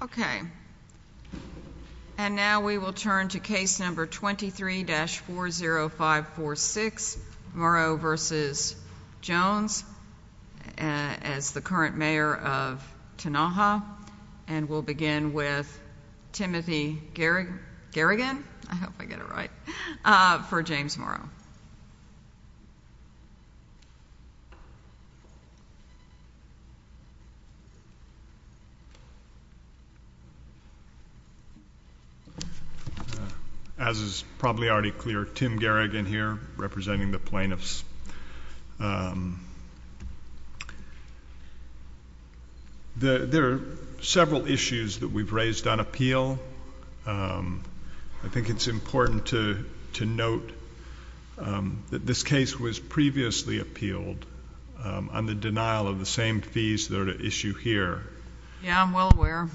Okay, and now we will turn to case number 23-40546, Morrow v. Jones. as the current mayor of Tonaha, and we'll begin with Timothy Garrigan, I hope I get it right, for James Morrow. As is probably already clear, Tim Garrigan here, representing the plaintiffs. There are several issues that we've raised on appeal. I think it's important to note that this case was previously appealed on the denial of the same fees that are at issue here. Yeah, I'm well aware.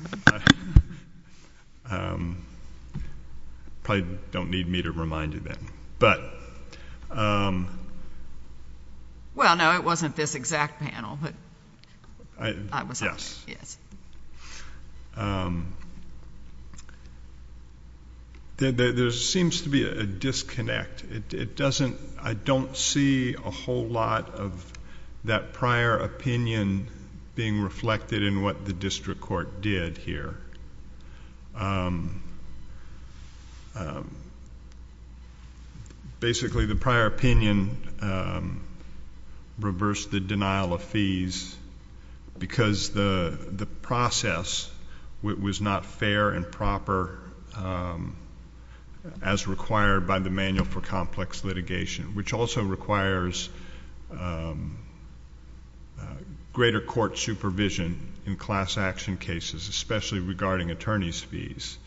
Probably don't need me to remind you then. Well, no, it wasn't this exact panel. Yes. There seems to be a disconnect. I don't see a whole lot of that prior opinion being reflected in what the district court did here. Basically, the prior opinion reversed the denial of fees because the process was not fair and proper as required by the manual for complex litigation, which also requires greater court supervision in class action cases, especially regarding attorney's fees.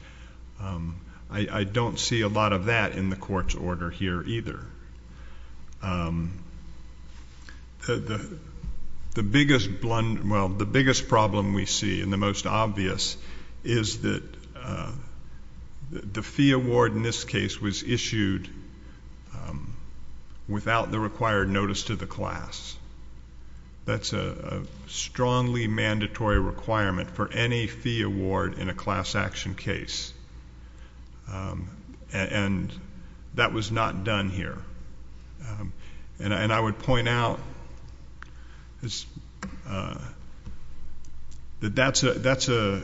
I don't see a lot of that in the court's order here either. The biggest problem we see, and the most obvious, is that the fee award in this case was issued without the required notice to the class. That's a strongly mandatory requirement for any fee award in a class action case. That was not done here. I would point out that that's a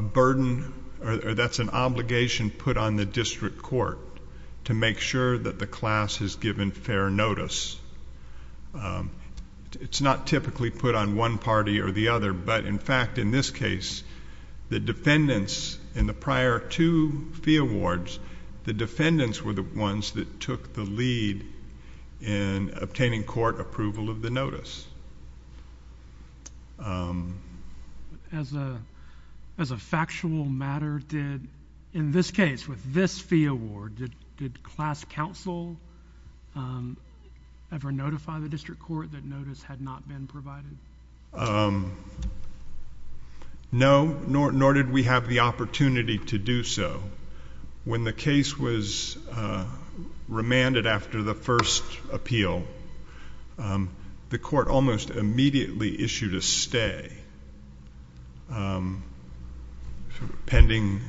burden or that's an obligation put on the district court to make sure that the class is given fair notice. It's not typically put on one party or the other, but in fact, in this case, the defendants in the prior two fee awards, the defendants were the ones that took the lead in obtaining court approval of the notice. As a factual matter, in this case, with this fee award, did class counsel ever notify the district court that notice had not been provided? No, nor did we have the opportunity to do so. When the case was remanded after the first appeal, the court almost immediately issued a stay pending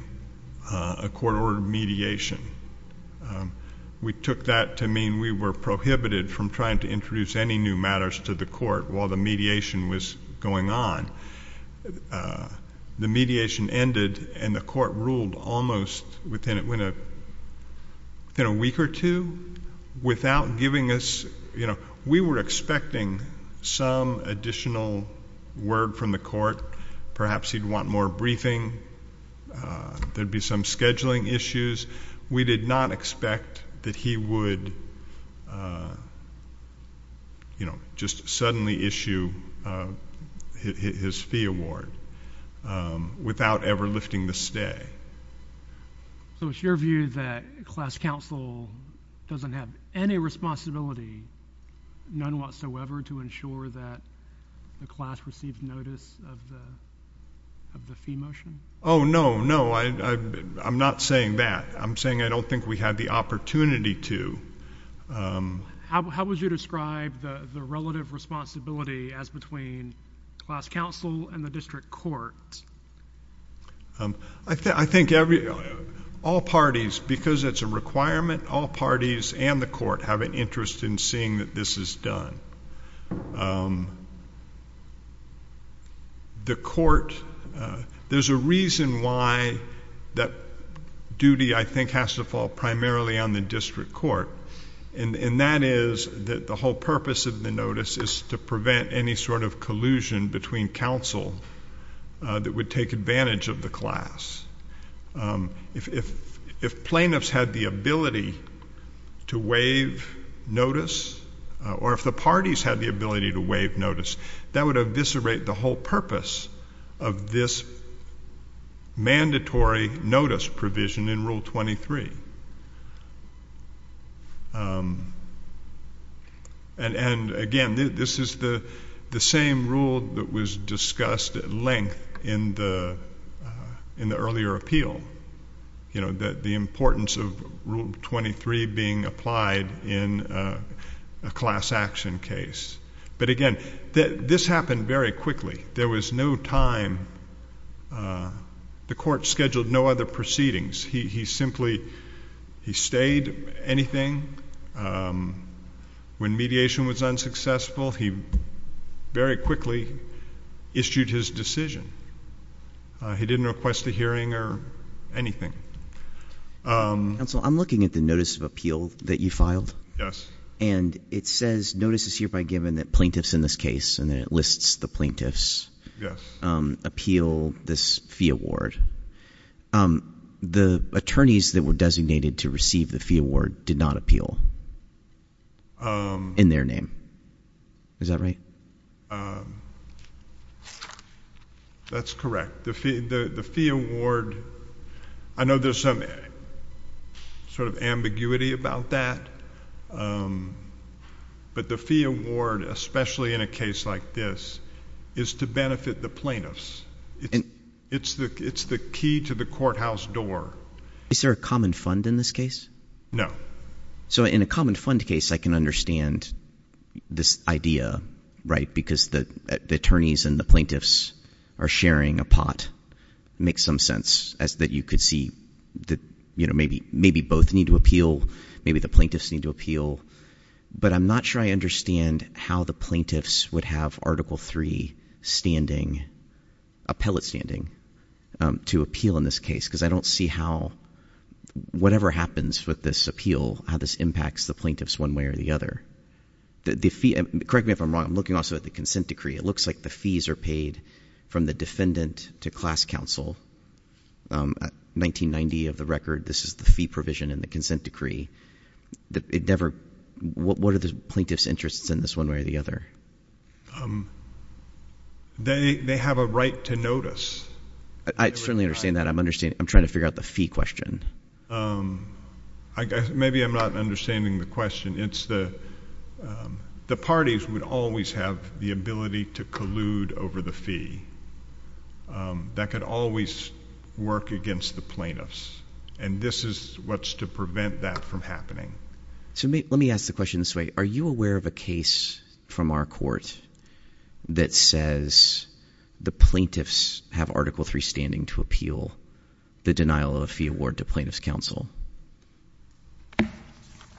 a court-ordered mediation. We took that to mean we were prohibited from trying to introduce any new matters to the court while the mediation was going on. The mediation ended and the court ruled almost within a week or two without giving us, you know, we were expecting some additional word from the court. Perhaps he'd want more briefing. There'd be some scheduling issues. We did not expect that he would, you know, just suddenly issue his fee award without ever lifting the stay. So it's your view that class counsel doesn't have any responsibility, none whatsoever, to ensure that the class receives notice of the fee motion? Oh, no, no. I'm not saying that. I'm saying I don't think we had the opportunity to. How would you describe the relative responsibility as between class counsel and the district court? I think all parties, because it's a requirement, all parties and the court have an interest in seeing that this is done. The court, there's a reason why that duty, I think, has to fall primarily on the district court, and that is that the whole purpose of the notice is to prevent any sort of collusion between counsel that would take advantage of the class. If plaintiffs had the ability to waive notice, or if the parties had the ability to waive notice, that would eviscerate the whole purpose of this mandatory notice provision in Rule 23. And, again, this is the same rule that was discussed at length in the earlier appeal, the importance of Rule 23 being applied in a class action case. But, again, this happened very quickly. There was no time. The court scheduled no other proceedings. He simply stayed anything. When mediation was unsuccessful, he very quickly issued his decision. He didn't request a hearing or anything. Counsel, I'm looking at the notice of appeal that you filed. Yes. And it says notice is hereby given that plaintiffs in this case, and then it lists the plaintiffs, appeal this fee award. The attorneys that were designated to receive the fee award did not appeal in their name. Is that right? That's correct. The fee award, I know there's some sort of ambiguity about that. But the fee award, especially in a case like this, is to benefit the plaintiffs. It's the key to the courthouse door. Is there a common fund in this case? No. So in a common fund case, I can understand this idea, right, because the attorneys and the plaintiffs are sharing a pot. It makes some sense as that you could see that maybe both need to appeal, maybe the plaintiffs need to appeal. But I'm not sure I understand how the plaintiffs would have Article III standing, appellate standing, to appeal in this case, because I don't see how whatever happens with this appeal, how this impacts the plaintiffs one way or the other. Correct me if I'm wrong. I'm looking also at the consent decree. It looks like the fees are paid from the defendant to class counsel. 1990 of the record, this is the fee provision in the consent decree. What are the plaintiffs' interests in this one way or the other? They have a right to notice. I certainly understand that. I'm trying to figure out the fee question. Maybe I'm not understanding the question. The parties would always have the ability to collude over the fee. That could always work against the plaintiffs. And this is what's to prevent that from happening. So let me ask the question this way. Are you aware of a case from our court that says the plaintiffs have Article III standing to appeal the denial of a fee award to plaintiffs' counsel?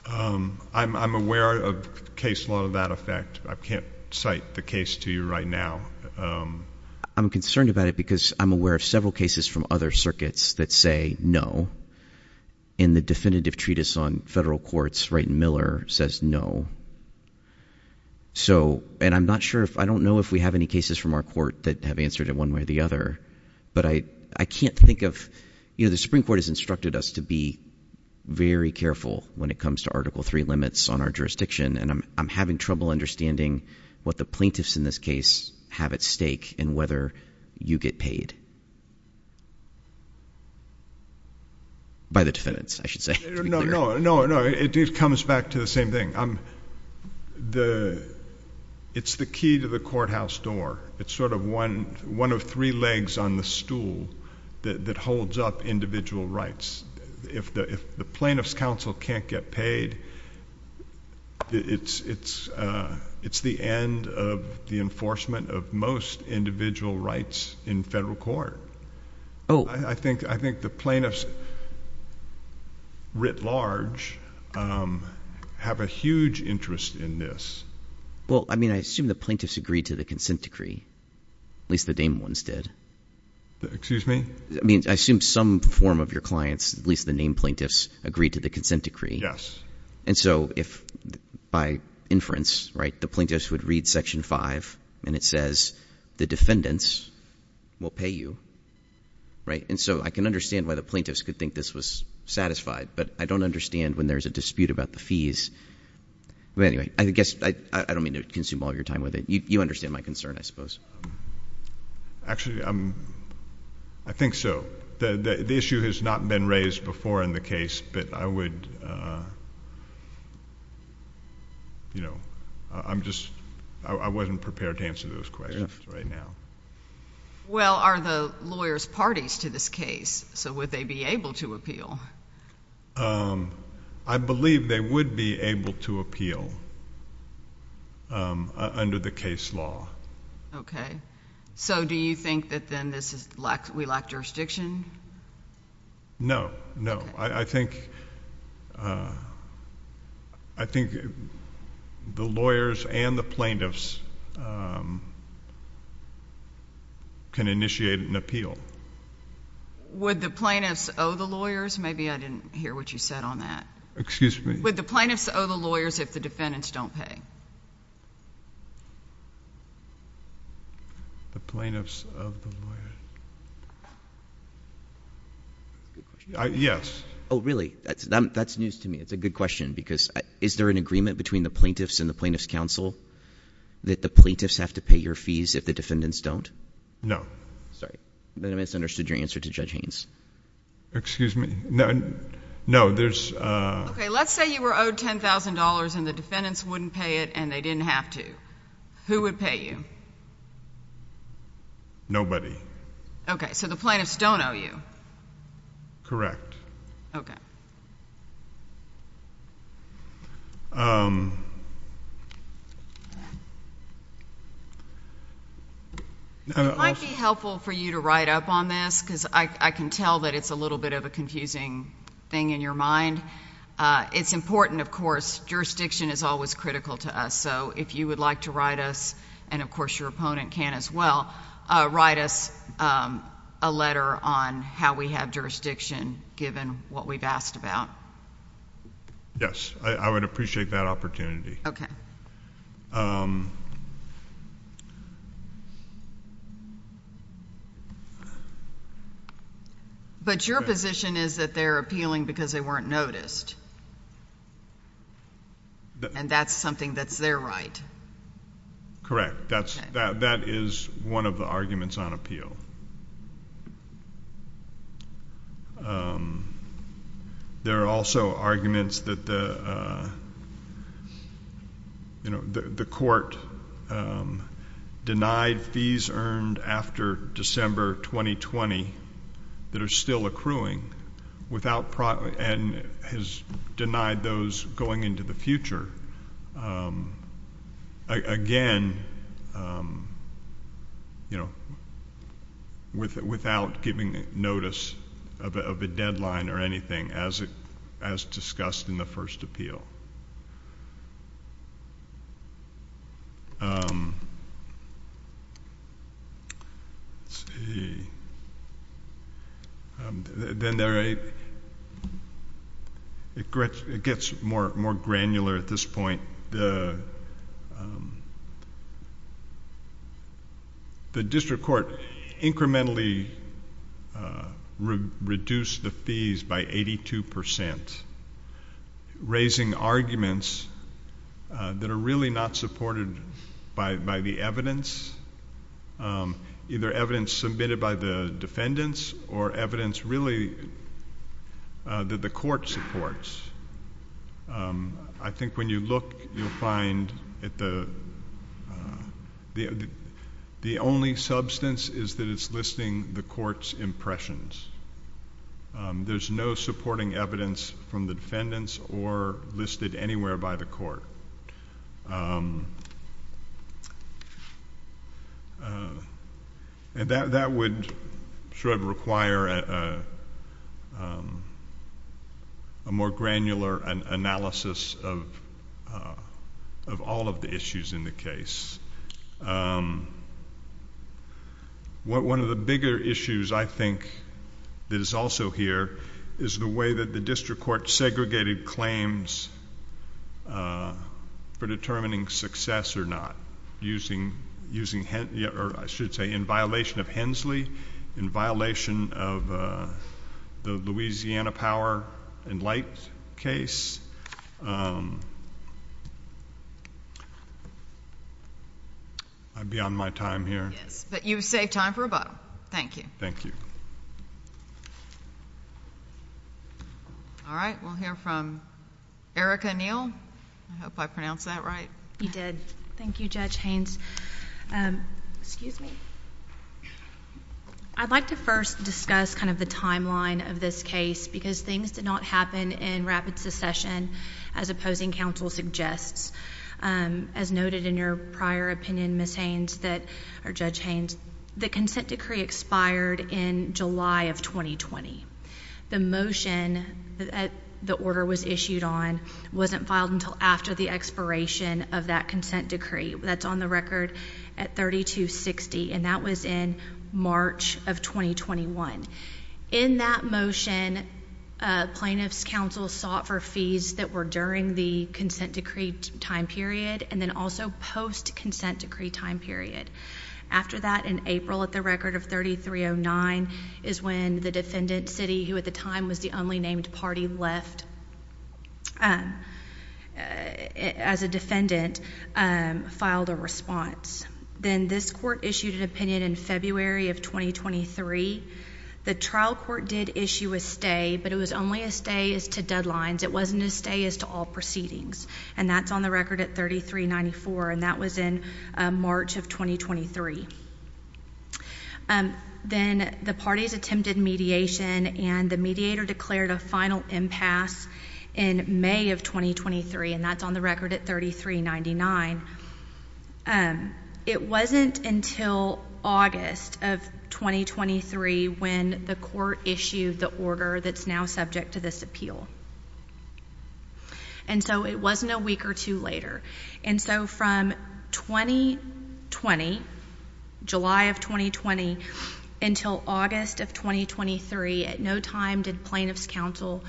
I'm aware of case law of that effect. I can't cite the case to you right now. I'm concerned about it because I'm aware of several cases from other circuits that say no. In the definitive treatise on federal courts, Wright and Miller says no. And I'm not sure if ‑‑ I don't know if we have any cases from our court that have answered it one way or the other. But I can't think of ‑‑ you know, the Supreme Court has instructed us to be very careful when it comes to Article III limits on our jurisdiction. And I'm having trouble understanding what the plaintiffs in this case have at stake and whether you get paid. By the defendants, I should say. No, no, no. It comes back to the same thing. It's the key to the courthouse door. It's sort of one of three legs on the stool that holds up individual rights. If the plaintiffs' counsel can't get paid, it's the end of the enforcement of most individual rights in federal court. Oh. I think the plaintiffs, writ large, have a huge interest in this. Well, I mean, I assume the plaintiffs agreed to the consent decree. At least the Damon ones did. Excuse me? I mean, I assume some form of your clients, at least the named plaintiffs, agreed to the consent decree. And so if by inference, right, the plaintiffs would read Section V and it says the defendants will pay you, right? And so I can understand why the plaintiffs could think this was satisfied, but I don't understand when there's a dispute about the fees. But anyway, I guess I don't mean to consume all your time with it. You understand my concern, I suppose. Actually, I think so. The issue has not been raised before in the case, but I would, you know, I'm just, I wasn't prepared to answer those questions right now. Well, are the lawyers parties to this case? So would they be able to appeal? I believe they would be able to appeal under the case law. Okay. So do you think that then this is, we lack jurisdiction? No, no. I think the lawyers and the plaintiffs can initiate an appeal. Would the plaintiffs owe the lawyers? Maybe I didn't hear what you said on that. Excuse me? Would the plaintiffs owe the lawyers if the defendants don't pay? The plaintiffs of the lawyers. Good question. Yes. Oh, really? That's news to me. It's a good question because is there an agreement between the plaintiffs and the Plaintiffs' Council that the plaintiffs have to pay your fees if the defendants don't? No. Sorry. Then I misunderstood your answer to Judge Haynes. Excuse me? No, there's. Okay. Let's say you were owed $10,000 and the defendants wouldn't pay it and they didn't have to. Who would pay you? Nobody. Okay. So the plaintiffs don't owe you? Correct. Okay. It might be helpful for you to write up on this because I can tell that it's a little bit of a confusing thing in your mind. It's important, of course. Jurisdiction is always critical to us. So if you would like to write us, and of course your opponent can as well, write us a letter on how we have jurisdiction given what we've asked about. Yes. I would appreciate that opportunity. But your position is that they're appealing because they weren't noticed. And that's something that's their right. Correct. That is one of the arguments on appeal. There are also arguments that the court denied fees earned after December 2020 that are still accruing and has denied those going into the future. Again, without giving notice of a deadline or anything as discussed in the first appeal. Let's see. Then there are... it gets more granular at this point. The district court incrementally reduced the fees by 82%, raising arguments that are really not supported by the evidence, either evidence submitted by the defendants or evidence really that the court supports. I think when you look, you'll find that the only substance is that it's listing the court's impressions. There's no supporting evidence from the defendants or listed anywhere by the court. And that would sort of require a more granular analysis of all of the issues in the case. One of the bigger issues, I think, that is also here is the way that the district court segregated claims for determining success or not. I think that's one of the biggest issues that the district court segregated claims for determining success or not. I think that's one of the biggest issues that the district court segregated claims for determining success or not. You did. Thank you, Judge Haynes. Excuse me. I'd like to first discuss kind of the timeline of this case because things did not happen in rapid succession as opposing counsel suggests. As noted in your prior opinion, Ms. Haynes, or Judge Haynes, the consent decree expired in July of 2020. The motion that the order was issued on wasn't filed until after the expiration of that consent decree. That's on the record at 3260, and that was in March of 2021. In that motion, plaintiffs' counsel sought for fees that were during the consent decree time period and then also post-consent decree time period. After that, in April, at the record of 3309, is when the defendant's city, who at the time was the only named party left as a defendant, filed a response. Then this court issued an opinion in February of 2023. The trial court did issue a stay, but it was only a stay as to deadlines. It wasn't a stay as to all proceedings, and that's on the record at 3394, and that was in March of 2023. Then the parties attempted mediation, and the mediator declared a final impasse in May of 2023, and that's on the record at 3399. It wasn't until August of 2023 when the court issued the order that's now subject to this appeal. And so it wasn't a week or two later. And so from 2020, July of 2020, until August of 2023, at no time did plaintiffs' counsel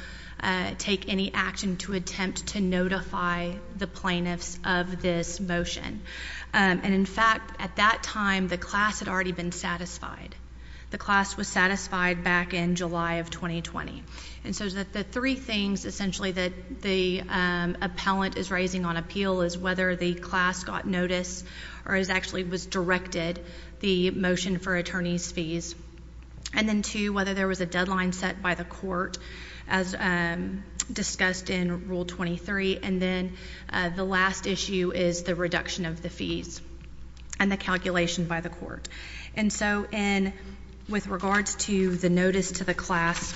take any action to attempt to notify the plaintiffs of this motion. And, in fact, at that time, the class had already been satisfied. The class was satisfied back in July of 2020. And so the three things, essentially, that the appellant is raising on appeal is whether the class got notice or has actually was directed the motion for attorney's fees, and then two, whether there was a deadline set by the court as discussed in Rule 23, and then the last issue is the reduction of the fees and the calculation by the court. And so with regards to the notice to the class,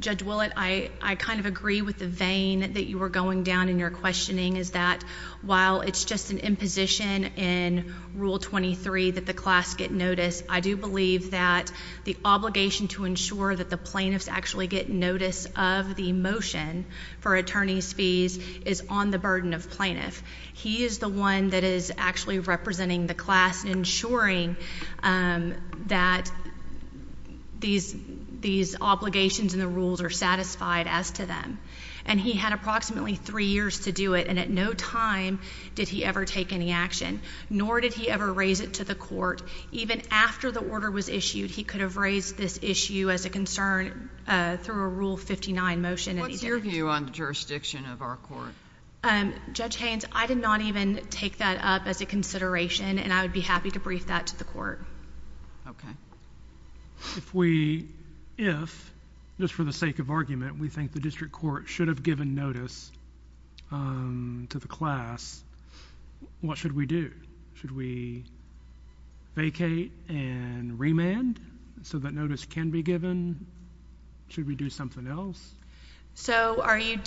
Judge Willett, I kind of agree with the vein that you were going down in your questioning, is that while it's just an imposition in Rule 23 that the class get notice, I do believe that the obligation to ensure that the plaintiffs actually get notice of the motion for attorney's fees is on the burden of plaintiff. He is the one that is actually representing the class, ensuring that these obligations and the rules are satisfied as to them. And he had approximately three years to do it, and at no time did he ever take any action, nor did he ever raise it to the court. Even after the order was issued, he could have raised this issue as a concern through a Rule 59 motion. What's your view on the jurisdiction of our court? Judge Haynes, I did not even take that up as a consideration, and I would be happy to brief that to the court. Okay. If we, if, just for the sake of argument, we think the district court should have given notice to the class, what should we do? Should we vacate and remand so that notice can be given? Should we do something else? So are you,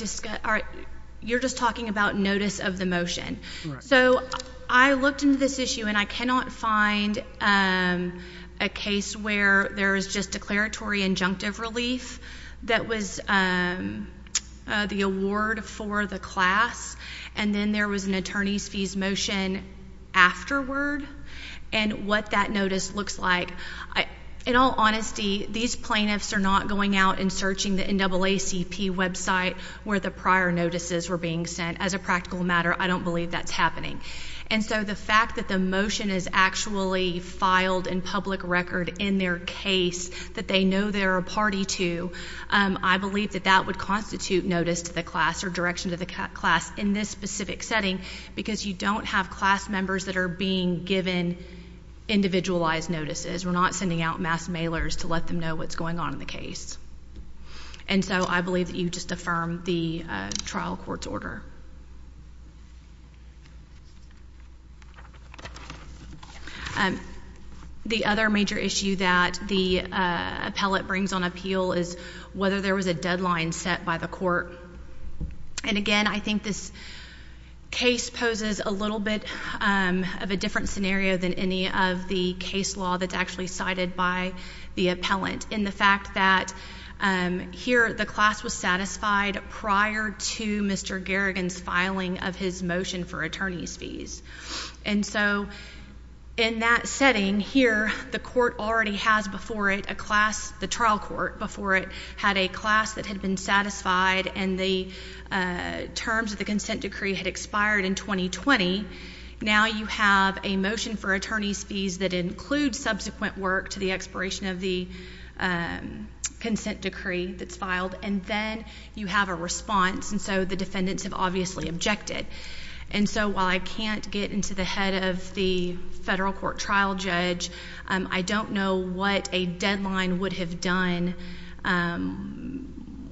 you're just talking about notice of the motion. So I looked into this issue, and I cannot find a case where there is just declaratory injunctive relief that was the award for the class, and then there was an attorney's fees motion afterward, and what that notice looks like. In all honesty, these plaintiffs are not going out and searching the NAACP website where the prior notices were being sent. As a practical matter, I don't believe that's happening. And so the fact that the motion is actually filed in public record in their case that they know they're a party to, I believe that that would constitute notice to the class or direction to the class in this specific setting because you don't have class members that are being given individualized notices. We're not sending out mass mailers to let them know what's going on in the case. And so I believe that you just affirmed the trial court's order. The other major issue that the appellate brings on appeal is whether there was a deadline set by the court. And again, I think this case poses a little bit of a different scenario than any of the case law that's actually cited by the appellant in the fact that here the class was satisfied prior to Mr. Garrigan's filing of his motion for attorney's fees. And so in that setting here, the trial court before it had a class that had been satisfied and the terms of the consent decree had expired in 2020. Now you have a motion for attorney's fees that includes subsequent work to the expiration of the consent decree that's filed. And then you have a response. And so the defendants have obviously objected. And so while I can't get into the head of the federal court trial judge, I don't know what a deadline would have done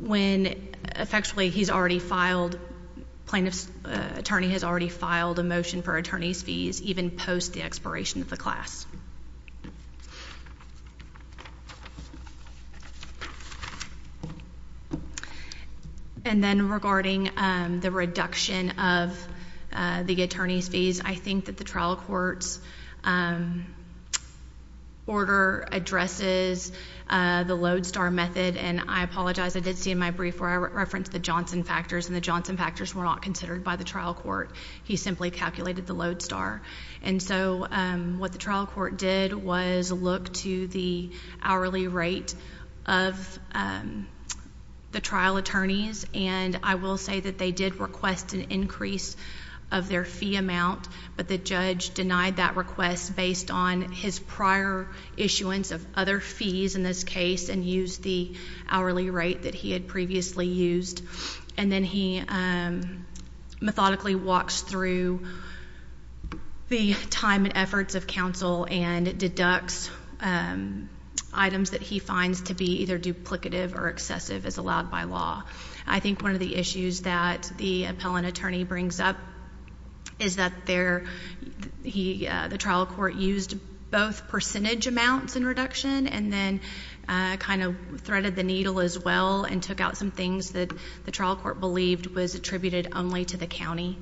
when effectively he's already filed, plaintiff's attorney has already filed a motion for attorney's fees even post the expiration of the class. And then regarding the reduction of the attorney's fees, I think that the trial court's order addresses the lodestar method. And I apologize. I did see in my brief where I referenced the Johnson factors, and the Johnson factors were not considered by the trial court. He simply calculated the lodestar. And so what the trial court did was look to the hourly rate of the trial attorneys. And I will say that they did request an increase of their fee amount, but the judge denied that request based on his prior issuance of other fees in this case and used the hourly rate that he had previously used. And then he methodically walks through the time and efforts of counsel and deducts items that he finds to be either duplicative or excessive as allowed by law. I think one of the issues that the appellant attorney brings up is that the trial court used both percentage amounts in reduction and then kind of threaded the needle as well and took out some things that the trial court believed was attributed only to the county.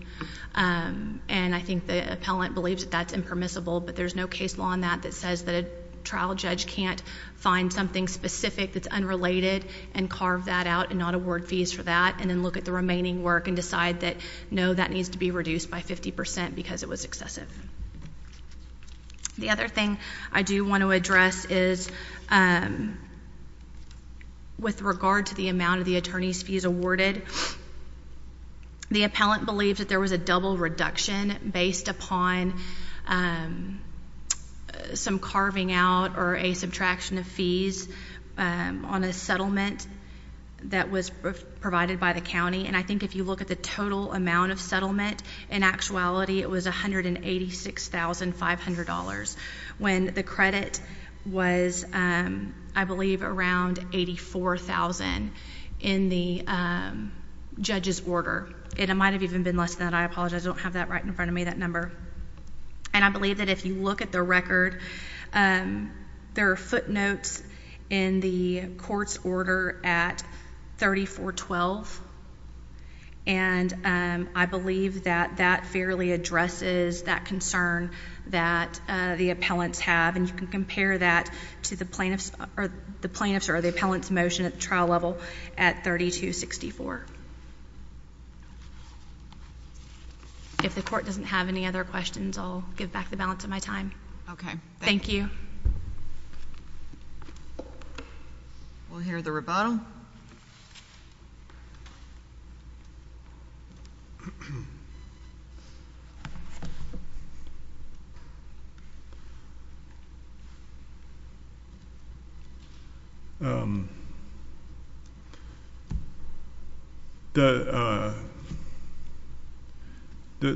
And I think the appellant believes that that's impermissible, but there's no case law on that that says that a trial judge can't find something specific that's unrelated and carve that out and not award fees for that and then look at the remaining work and decide that, no, that needs to be reduced by 50% because it was excessive. The other thing I do want to address is with regard to the amount of the attorney's fees awarded, the appellant believes that there was a double reduction based upon some carving out or a subtraction of fees on a settlement that was provided by the county. And I think if you look at the total amount of settlement, in actuality, it was $186,500 when the credit was, I believe, around $84,000 in the judge's order. It might have even been less than that. I apologize. I don't have that right in front of me, that number. And I believe that if you look at the record, there are footnotes in the court's order at 3412, and I believe that that fairly addresses that concern that the appellants have. And you can compare that to the plaintiff's or the appellant's motion at the trial level at 3264. If the court doesn't have any other questions, I'll give back the balance of my time. Okay. Thank you. We'll hear the rebuttal.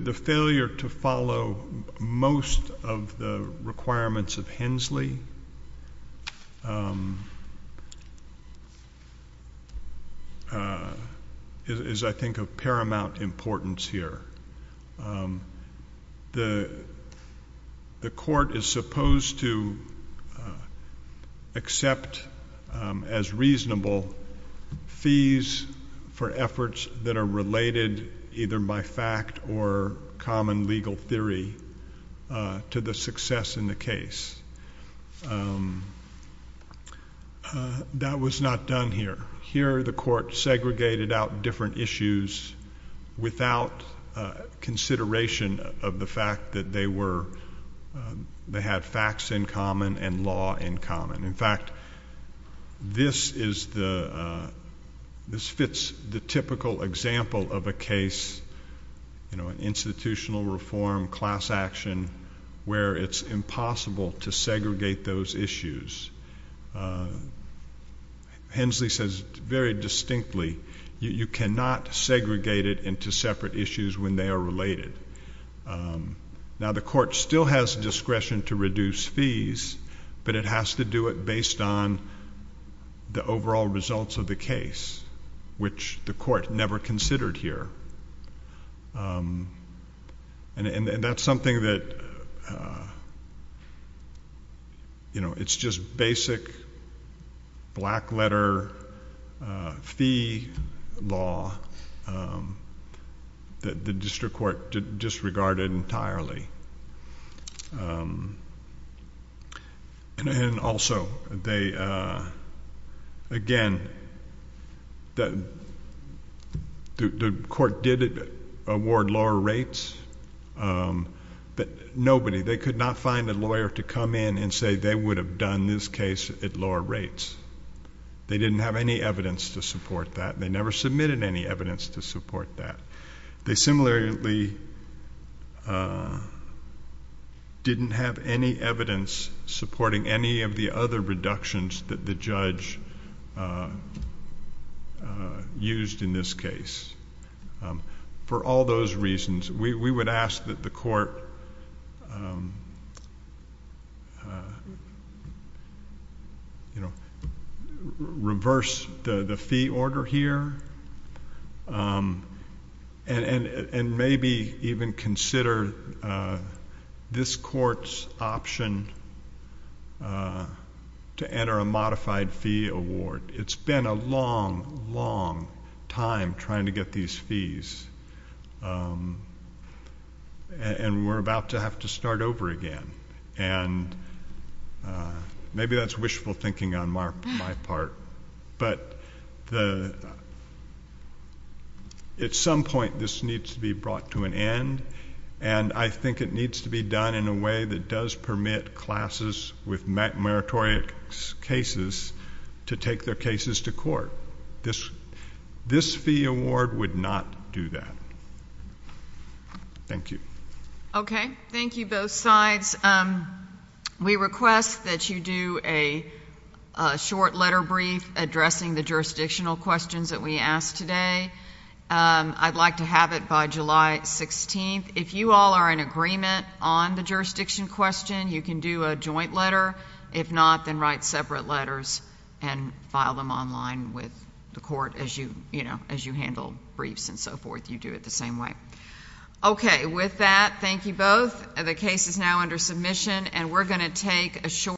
The failure to follow most of the requirements of Hensley. is, I think, of paramount importance here. The court is supposed to accept as reasonable fees for efforts that are related either by fact or common legal theory to the success in the case. That was not done here. Here, the court segregated out different issues without consideration of the fact that they had facts in common and law in common. In fact, this fits the typical example of a case, institutional reform, class action, where it's impossible to segregate those issues. Hensley says very distinctly, you cannot segregate it into separate issues when they are related. Now, the court still has discretion to reduce fees, but it has to do it based on the overall results of the case, which the court never considered here. That's something that, you know, it's just basic black letter fee law that the district court disregarded entirely. And also, again, the court did award lower rates, but nobody, they could not find a lawyer to come in and say they would have done this case at lower rates. They didn't have any evidence to support that. They never submitted any evidence to support that. They similarly didn't have any evidence supporting any of the other reductions that the judge used in this case. For all those reasons, we would ask that the court, you know, reverse the fee order here and maybe even consider this court's option to enter a modified fee award. It's been a long, long time trying to get these fees, and we're about to have to start over again. And maybe that's wishful thinking on my part. But at some point, this needs to be brought to an end, and I think it needs to be done in a way that does permit classes with meritorious cases to take their cases to court. This fee award would not do that. Thank you. Okay. Thank you, both sides. We request that you do a short letter brief addressing the jurisdictional questions that we asked today. I'd like to have it by July 16th. If you all are in agreement on the jurisdiction question, you can do a joint letter. If not, then write separate letters and file them online with the court as you handle briefs and so forth. You do it the same way. Okay. With that, thank you both. The case is now under submission, and we're going to take a short-